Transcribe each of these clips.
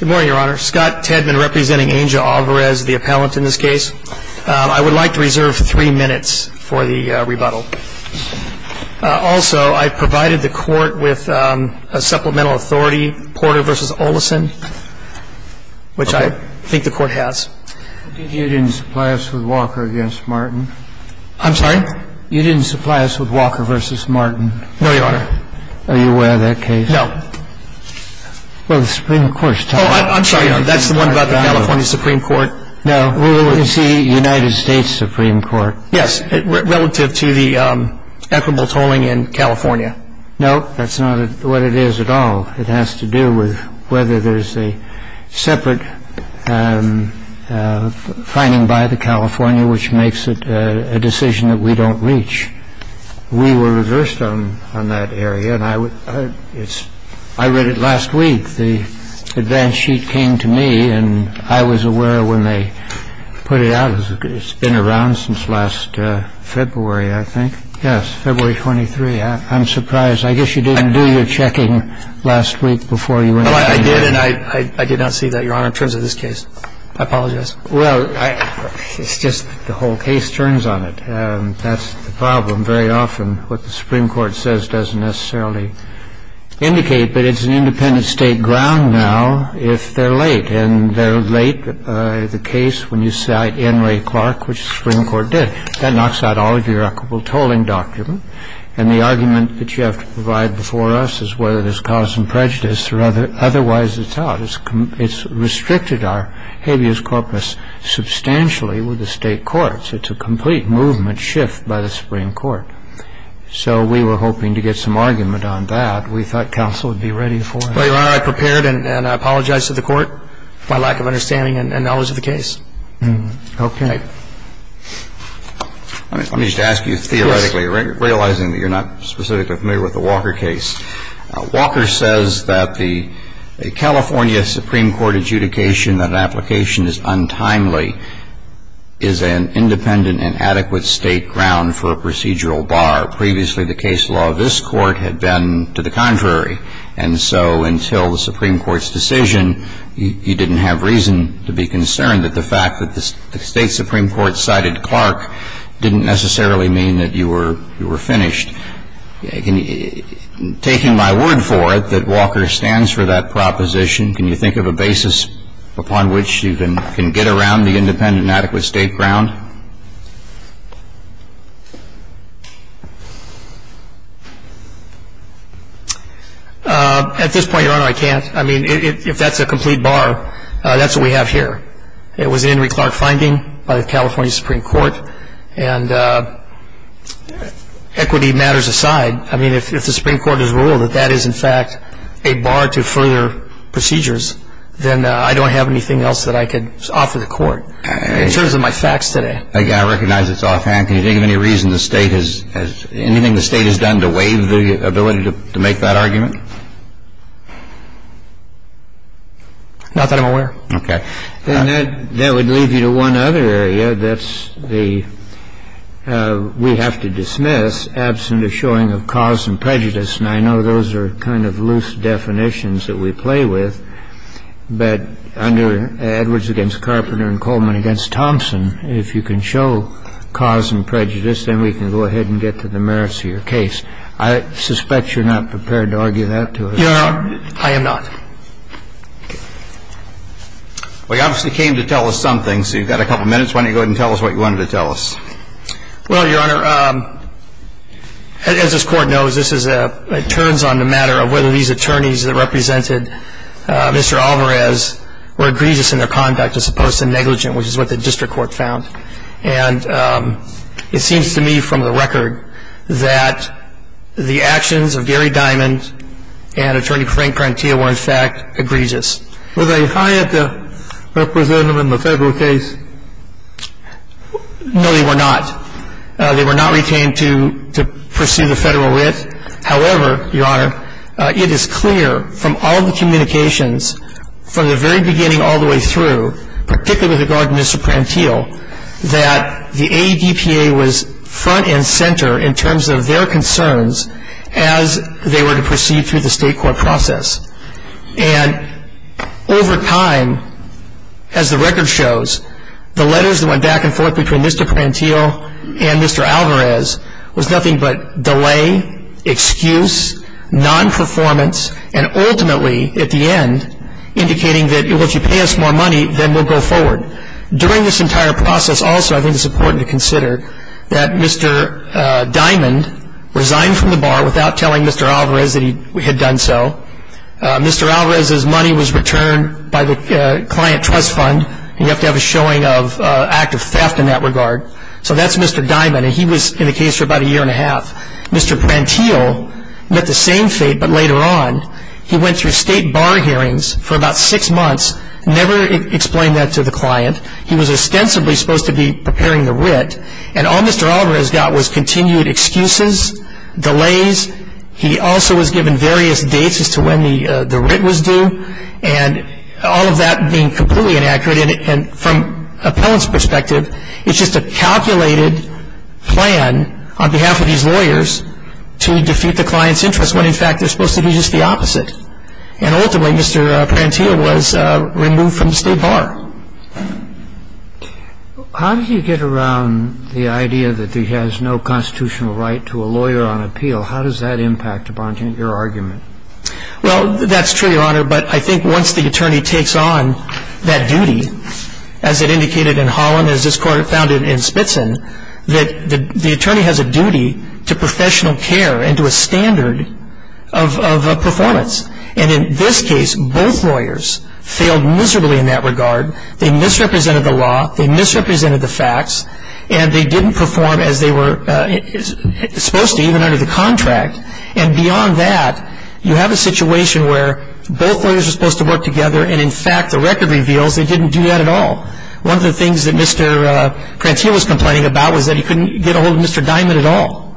Good morning, Your Honor. Scott Tedman representing Angel Alvarez, the appellant in this case. I would like to reserve three minutes for the rebuttal. Also, I provided the court with a supplemental authority, Porter v. Olison, which I think the court has. You didn't supply us with Walker v. Martin? I'm sorry? You didn't supply us with Walker v. Martin? No, Your Honor. Are you aware of that case? No. Well, the Supreme Court's talking about it. Oh, I'm sorry, Your Honor. That's the one about the California Supreme Court. No, it's the United States Supreme Court. Yes, relative to the equitable tolling in California. No, that's not what it is at all. It has to do with whether there's a separate finding by the California which makes it a decision that we don't reach. Well, there's a case by the California Supreme Court, I think, which we were reversed on that area, and I read it last week. The advance sheet came to me, and I was aware when they put it out. It's been around since last February, I think. Yes, February 23. I'm surprised. I guess you didn't do your checking last week before you went to the hearing. Well, I did, and I did not see that, Your Honor, in terms of this case. I apologize. Well, it's just the whole case turns on it, and that's the problem. Very often what the Supreme Court says doesn't necessarily indicate, but it's an independent State ground now if they're late. And they're late. The case when you cite Henry Clark, which the Supreme Court did, that knocks out all of your equitable tolling documents. And the argument that you have to provide before us is whether there's cause and prejudice, or otherwise it's out. It's restricted our habeas corpus substantially with the State courts. It's a complete movement shift by the Supreme Court. So we were hoping to get some argument on that. We thought counsel would be ready for it. Well, Your Honor, I prepared, and I apologize to the Court for my lack of understanding and knowledge of the case. Okay. Let me just ask you theoretically, realizing that you're not specifically familiar with the Walker case. Walker says that the California Supreme Court adjudication that an application is untimely is an independent and adequate State ground for a procedural bar. Previously, the case law of this Court had been to the contrary. And so until the Supreme Court's decision, you didn't have reason to be concerned that the fact that the State Supreme Court cited Clark didn't necessarily mean that you were finished. Taking my word for it that Walker stands for that proposition, can you think of a basis upon which you can get around the independent and adequate State ground? At this point, Your Honor, I can't. I mean, if that's a complete bar, that's what we have here. It was an Henry Clark finding by the California Supreme Court. And equity matters aside, I mean, if the Supreme Court has ruled that that is, in fact, a bar to further procedures, then I don't have anything else that I could offer the Court. In terms of my facts today. Again, I recognize it's offhand. Can you think of any reason the State has — anything the State has done to waive the ability to make that argument? Not that I'm aware. Okay. Then that would leave you to one other area. That's the — we have to dismiss, absent a showing of cause and prejudice, and I know those are kind of loose definitions that we play with, but under Edwards v. Carpenter and Coleman v. Thompson, if you can show cause and prejudice, then we can go ahead and get to the merits of your case. I suspect you're not prepared to argue that to us. Your Honor, I am not. Well, you obviously came to tell us something, so you've got a couple minutes. Why don't you go ahead and tell us what you wanted to tell us? Well, Your Honor, as this Court knows, this is a — it turns on the matter of whether these attorneys that represented Mr. Alvarez were egregious in their conduct as opposed to negligent, which is what the District Court found. And it seems to me from the record that the actions of Gary Diamond and Attorney Frank Prentia were, in fact, egregious. Were they hired to represent him in the federal case? No, they were not. They were not retained to pursue the federal writ. However, Your Honor, it is clear from all the communications from the very beginning all the way through, particularly with regard to Mr. Prential, that the AEDPA was front and center in terms of their concerns as they were to proceed through the State Court process. And over time, as the record shows, the letters that went back and forth between Mr. Prential and Mr. Alvarez was nothing but delay, excuse, non-performance, and ultimately, at the end, indicating that if you pay us more money, then we'll go forward. During this entire process, also, I think it's important to consider that Mr. Diamond resigned from the bar without telling Mr. Alvarez that he had done so. Mr. Alvarez's money was returned by the client trust fund, and you have to have a showing of an act of theft in that regard. So that's Mr. Diamond, and he was in the case for about a year and a half. Mr. Prential met the same fate, but later on, he went through state bar hearings for about six months, never explained that to the client. He was ostensibly supposed to be preparing the writ, and all Mr. Alvarez got was continued excuses, delays. He also was given various dates as to when the writ was due, and all of that being completely inaccurate. And from an appellant's perspective, it's just a calculated plan on behalf of these lawyers to defeat the client's interest when, in fact, they're supposed to be just the opposite. And ultimately, Mr. Prential was removed from the state bar. How did you get around the idea that he has no constitutional right to a lawyer on appeal? How does that impact upon your argument? Well, that's true, Your Honor, but I think once the attorney takes on that duty, as it indicated in Holland and as this Court found it in Spitson, that the attorney has a duty to professional care and to a standard of performance. And in this case, both lawyers failed miserably in that regard. They misrepresented the law, they misrepresented the facts, and they didn't perform as they were supposed to, even under the contract. And beyond that, you have a situation where both lawyers are supposed to work together, and in fact, the record reveals they didn't do that at all. One of the things that Mr. Prential was complaining about was that he couldn't get a hold of Mr. Diamond at all.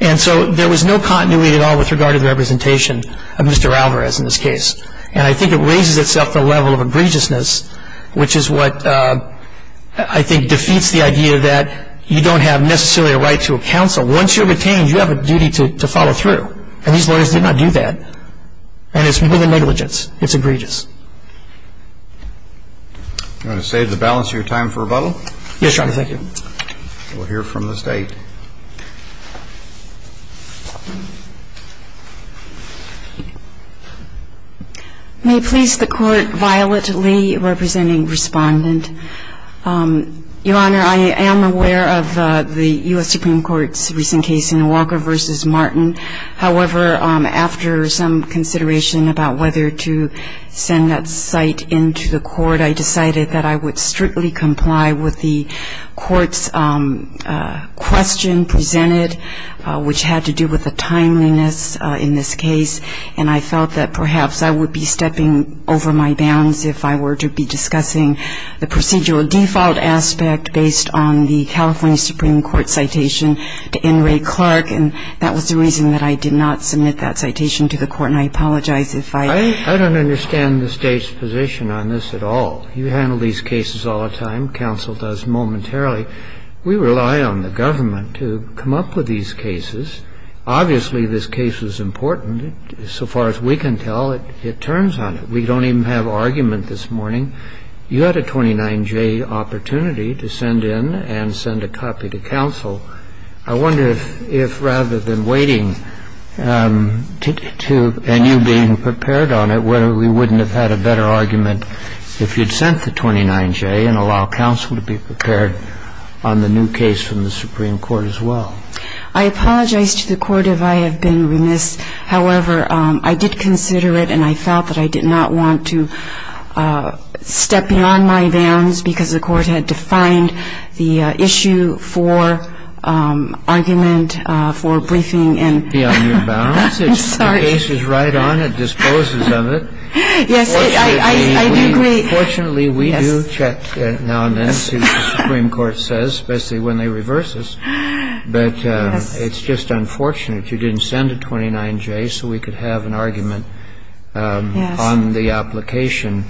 And so there was no continuity at all with regard to the representation of Mr. Alvarez in this case. And I think it raises itself to a level of egregiousness, which is what I think defeats the idea that you don't have necessarily a right to a counsel. Once you're retained, you have a duty to follow through, and these lawyers did not do that. And it's more than negligence. It's egregious. You want to save the balance of your time for rebuttal? Yes, Your Honor. Thank you. We'll hear from the State. May it please the Court, Violet Lee, representing Respondent. Your Honor, I am aware of the U.S. Supreme Court's recent case in Walker v. Martin. However, after some consideration about whether to send that site into the Court, I decided that I would strictly comply with the Court's question presented, which had to do with the timeliness in this case. And I felt that perhaps I would be stepping over my bounds if I were to be discussing the procedural default aspect based on the California Supreme Court citation to N. Ray Clark. And that was the reason that I did not submit that citation to the Court. And I apologize if I ---- I don't understand the State's position on this at all. You handle these cases all the time. Counsel does momentarily. We rely on the government to come up with these cases. Obviously, this case is important. So far as we can tell, it turns on it. We don't even have argument this morning. You had a 29-J opportunity to send in and send a copy to counsel. I wonder if rather than waiting to ---- and you being prepared on it, whether we wouldn't have had a better argument if you'd sent the 29-J and allowed counsel to be prepared on the new case from the Supreme Court as well. I apologize to the Court if I have been remiss. However, I did consider it, and I felt that I did not want to step beyond my bounds because the Court had defined the issue for argument, for briefing and ---- Beyond your bounds? I'm sorry. The case is right on. It disposes of it. Yes, I do agree. Fortunately, we do check now and then, as the Supreme Court says, especially when they reverse us. But it's just unfortunate you didn't send a 29-J so we could have an argument on the application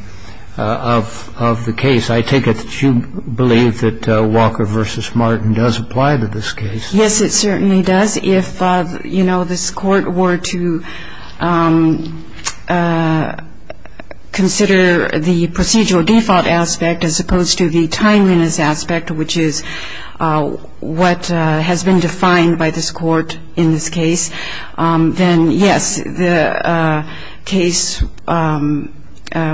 of the case. I take it that you believe that Walker v. Martin does apply to this case. Yes, it certainly does. If, you know, this Court were to consider the procedural default aspect as opposed to the timeliness aspect, which is what has been defined by this Court in this case, then, yes, the case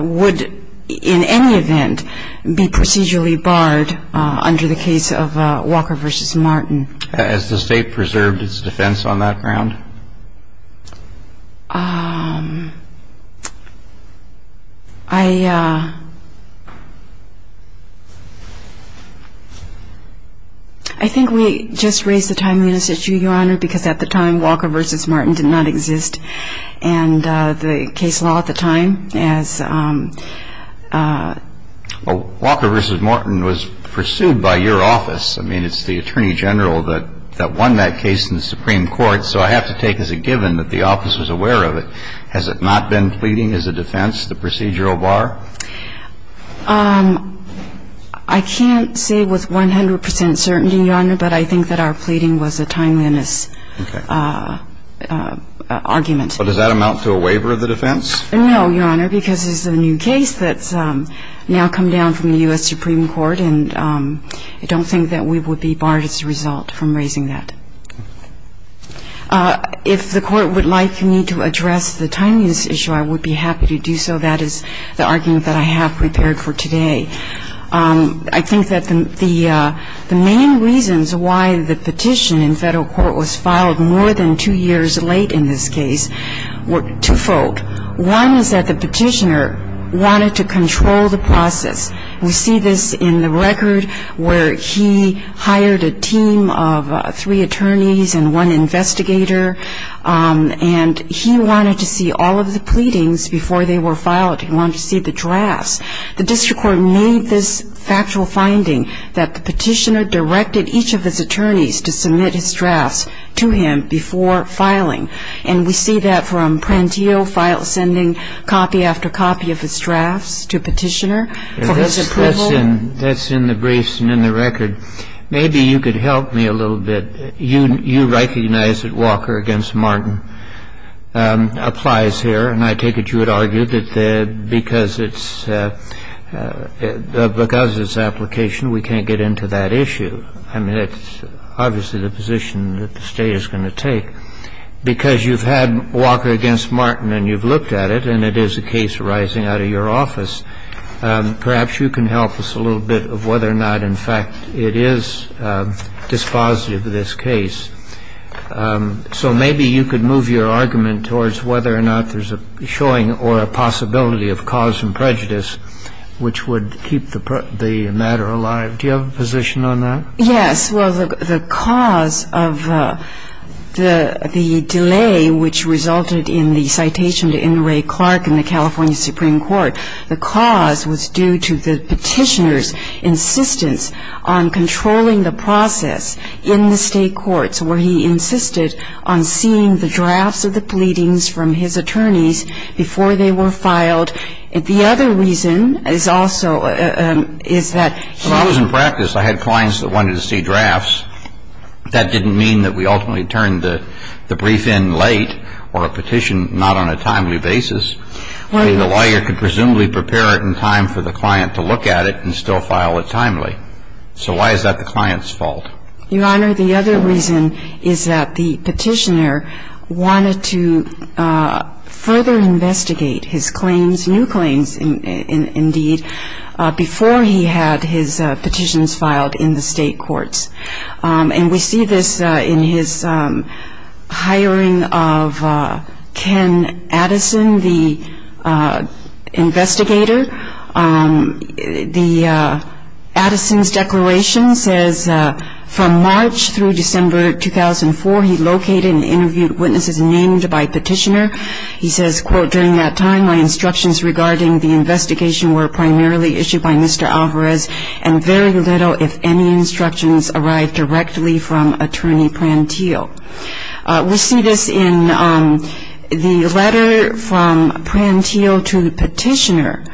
would in any event be procedurally barred under the case of Walker v. Martin. Has the State preserved its defense on that ground? I think we just raised the timeliness issue, Your Honor, because at the time, Walker v. Martin did not exist. And the case law at the time, as ---- Well, Walker v. Martin was pursued by your office. I mean, it's the Attorney General that won that case in the Supreme Court. So I have to take as a given that the office was aware of it. Has it not been pleading as a defense, the procedural bar? I can't say with 100 percent certainty, Your Honor, but I think that our pleading was a timeliness argument. But does that amount to a waiver of the defense? No, Your Honor, because it's a new case that's now come down from the U.S. Supreme Court, and I don't think that we would be barred as a result from raising that. If the Court would like me to address the timeliness issue, I would be happy to do so. That is the argument that I have prepared for today. I think that the main reasons why the petition in federal court was filed more than two years late in this case were twofold. One is that the petitioner wanted to control the process. We see this in the record where he hired a team of three attorneys and one investigator, and he wanted to see all of the pleadings before they were filed. He wanted to see the drafts. The district court made this factual finding that the petitioner directed each of his attorneys to submit his drafts to him before filing. And we see that from Prantillo sending copy after copy of his drafts to a petitioner for his approval. That's in the briefs and in the record. Maybe you could help me a little bit. You recognize that Walker v. Martin applies here, and I take it you would argue that because it's application, we can't get into that issue. I mean, it's obviously the position that the state is going to take. Because you've had Walker v. Martin and you've looked at it, and it is a case arising out of your office, perhaps you can help us a little bit of whether or not, in fact, it is dispositive of this case. So maybe you could move your argument towards whether or not there's a showing or a possibility of cause and prejudice which would keep the matter alive. Do you have a position on that? Yes. Well, the cause of the delay which resulted in the citation to N. Ray Clark in the California Supreme Court, the cause was due to the petitioner's insistence on controlling the process in the state courts where he insisted on seeing the drafts of the pleadings from his attorneys before they were filed. The other reason is also is that he was in practice. I had clients that wanted to see drafts. That didn't mean that we ultimately turned the brief in late or a petition not on a timely basis. I mean, the lawyer could presumably prepare it in time for the client to look at it and still file it timely. So why is that the client's fault? Your Honor, the other reason is that the petitioner wanted to further investigate his claims, new claims, indeed, before he had his petitions filed in the state courts. And we see this in his hiring of Ken Addison, the investigator. The Addison's declaration says from March through December 2004, he located and interviewed witnesses named by petitioner. He says, quote, during that time, my instructions regarding the investigation were primarily issued by Mr. Alvarez and very little, if any, instructions arrived directly from Attorney Prantile. We see this in the letter from Prantile to the petitioner.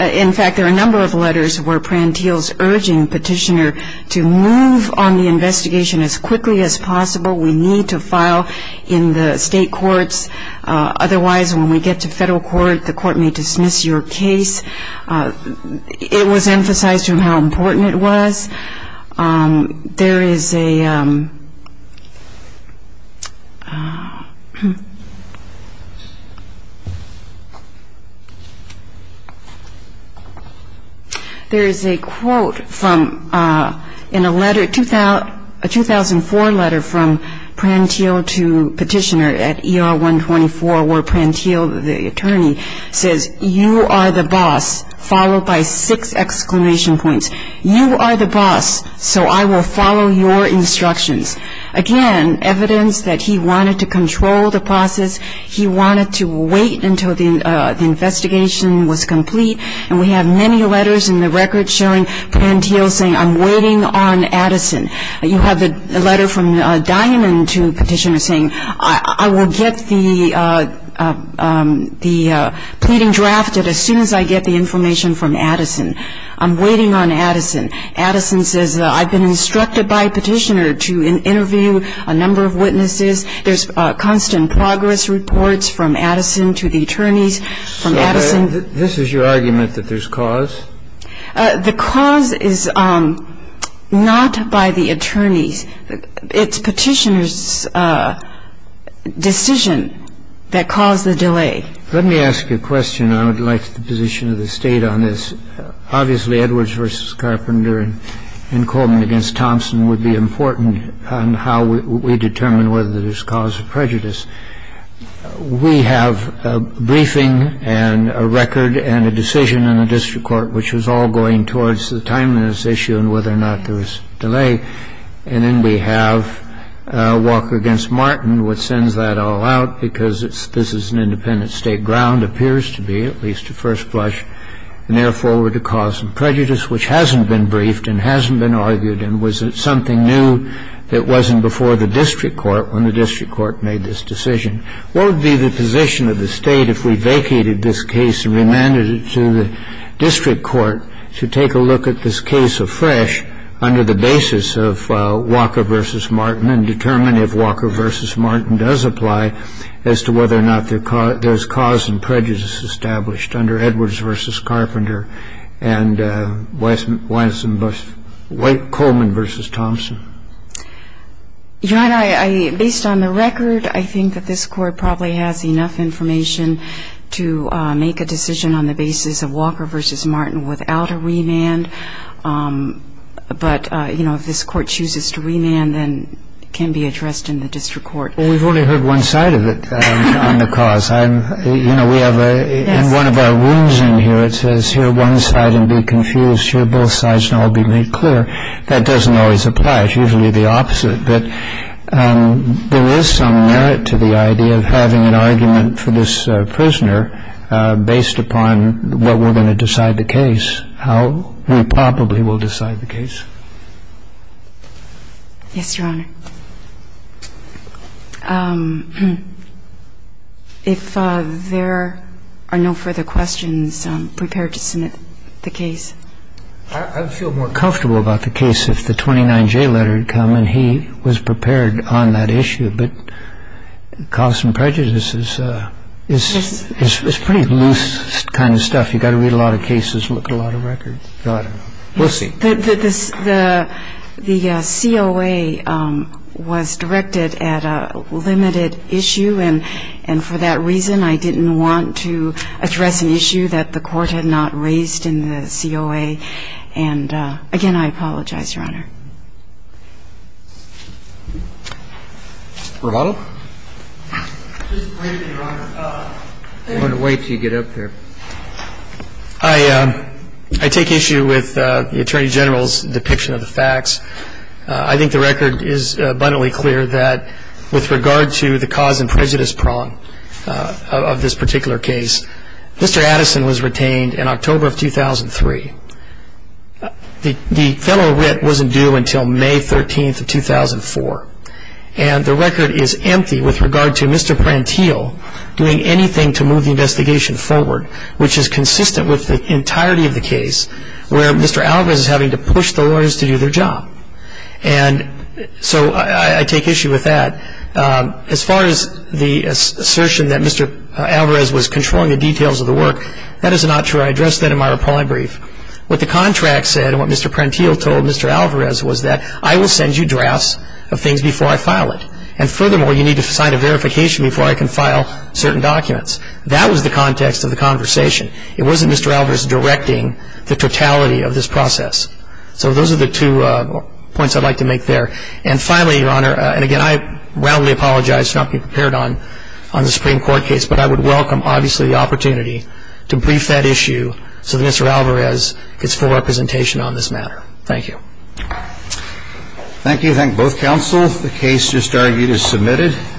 In fact, there are a number of letters where Prantile's urging petitioner to move on the investigation as quickly as possible. We need to file in the state courts. Otherwise, when we get to federal court, the court may dismiss your case. It was emphasized from how important it was. There is a quote from a 2004 letter from Prantile to petitioner at ER 124 where Prantile, the attorney, says, you are the boss, followed by six exclamation points. You are the boss, so I will follow your instructions. Again, evidence that he wanted to control the process. He wanted to wait until the investigation was complete. And we have many letters in the record showing Prantile saying, I'm waiting on Addison. You have the letter from Dianon to petitioner saying, I will get the pleading drafted as soon as I get the information from Addison. I'm waiting on Addison. Addison says, I've been instructed by petitioner to interview a number of witnesses. There's constant progress reports from Addison to the attorneys from Addison. So this is your argument that there's cause? The cause is not by the attorneys. It's petitioner's decision that caused the delay. Let me ask you a question. I would like the position of the State on this. Obviously, Edwards v. Carpenter and Coleman v. Thompson would be important on how we determine whether there's cause of prejudice. We have a briefing and a record and a decision in the district court which was all going towards the timeliness issue and whether or not there was delay. And then we have Walker v. Martin, which sends that all out because this is an independent State ground, appears to be, at least at first blush, a near forward to cause of prejudice, which hasn't been briefed and hasn't been argued and was something new that wasn't before the district court when the district court made this decision. What would be the position of the State if we vacated this case and remanded it to the district court to take a look at this case afresh under the basis of Walker v. Martin and determine if Walker v. Martin does apply as to whether or not there's cause and prejudice established under Edwards v. Carpenter and White Coleman v. Thompson? Your Honor, based on the record, I think that this Court probably has enough information to make a decision on the basis of Walker v. Martin without a remand. But if this Court chooses to remand, then it can be addressed in the district court. Well, we've only heard one side of it on the cause. In one of our rooms in here, it says, hear one side and be confused. Hear both sides and all be made clear. That doesn't always apply. It's usually the opposite. But there is some merit to the idea of having an argument for this prisoner based upon what we're going to decide the case, how we probably will decide the case. Yes, Your Honor. If there are no further questions, prepare to submit the case. I'd feel more comfortable about the case if the 29J letter had come and he was prepared on that issue. But cause and prejudice is pretty loose kind of stuff. You've got to read a lot of cases and look at a lot of records. We'll see. The COA was directed at a limited issue. And for that reason, I didn't want to address an issue that the Court had not raised in the COA. And, again, I apologize, Your Honor. Romano? Just briefly, Your Honor. I'm going to wait until you get up there. I take issue with the Attorney General's depiction of the facts. I think the record is abundantly clear that with regard to the cause and prejudice prong of this particular case, Mr. Addison was retained in October of 2003. The federal writ wasn't due until May 13th of 2004. And the record is empty with regard to Mr. Prantile doing anything to move the investigation forward, which is consistent with the entirety of the case where Mr. Alvarez is having to push the lawyers to do their job. And so I take issue with that. As far as the assertion that Mr. Alvarez was controlling the details of the work, that is not true. I addressed that in my reply brief. What the contract said and what Mr. Prantile told Mr. Alvarez was that I will send you drafts of things before I file it. And, furthermore, you need to sign a verification before I can file certain documents. That was the context of the conversation. It wasn't Mr. Alvarez directing the totality of this process. So those are the two points I'd like to make there. And, finally, Your Honor, and, again, I roundly apologize for not being prepared on the Supreme Court case, but I would welcome, obviously, the opportunity to brief that issue so that Mr. Alvarez gets full representation on this matter. Thank you. Thank you. Thank both counsel. The case just argued is submitted.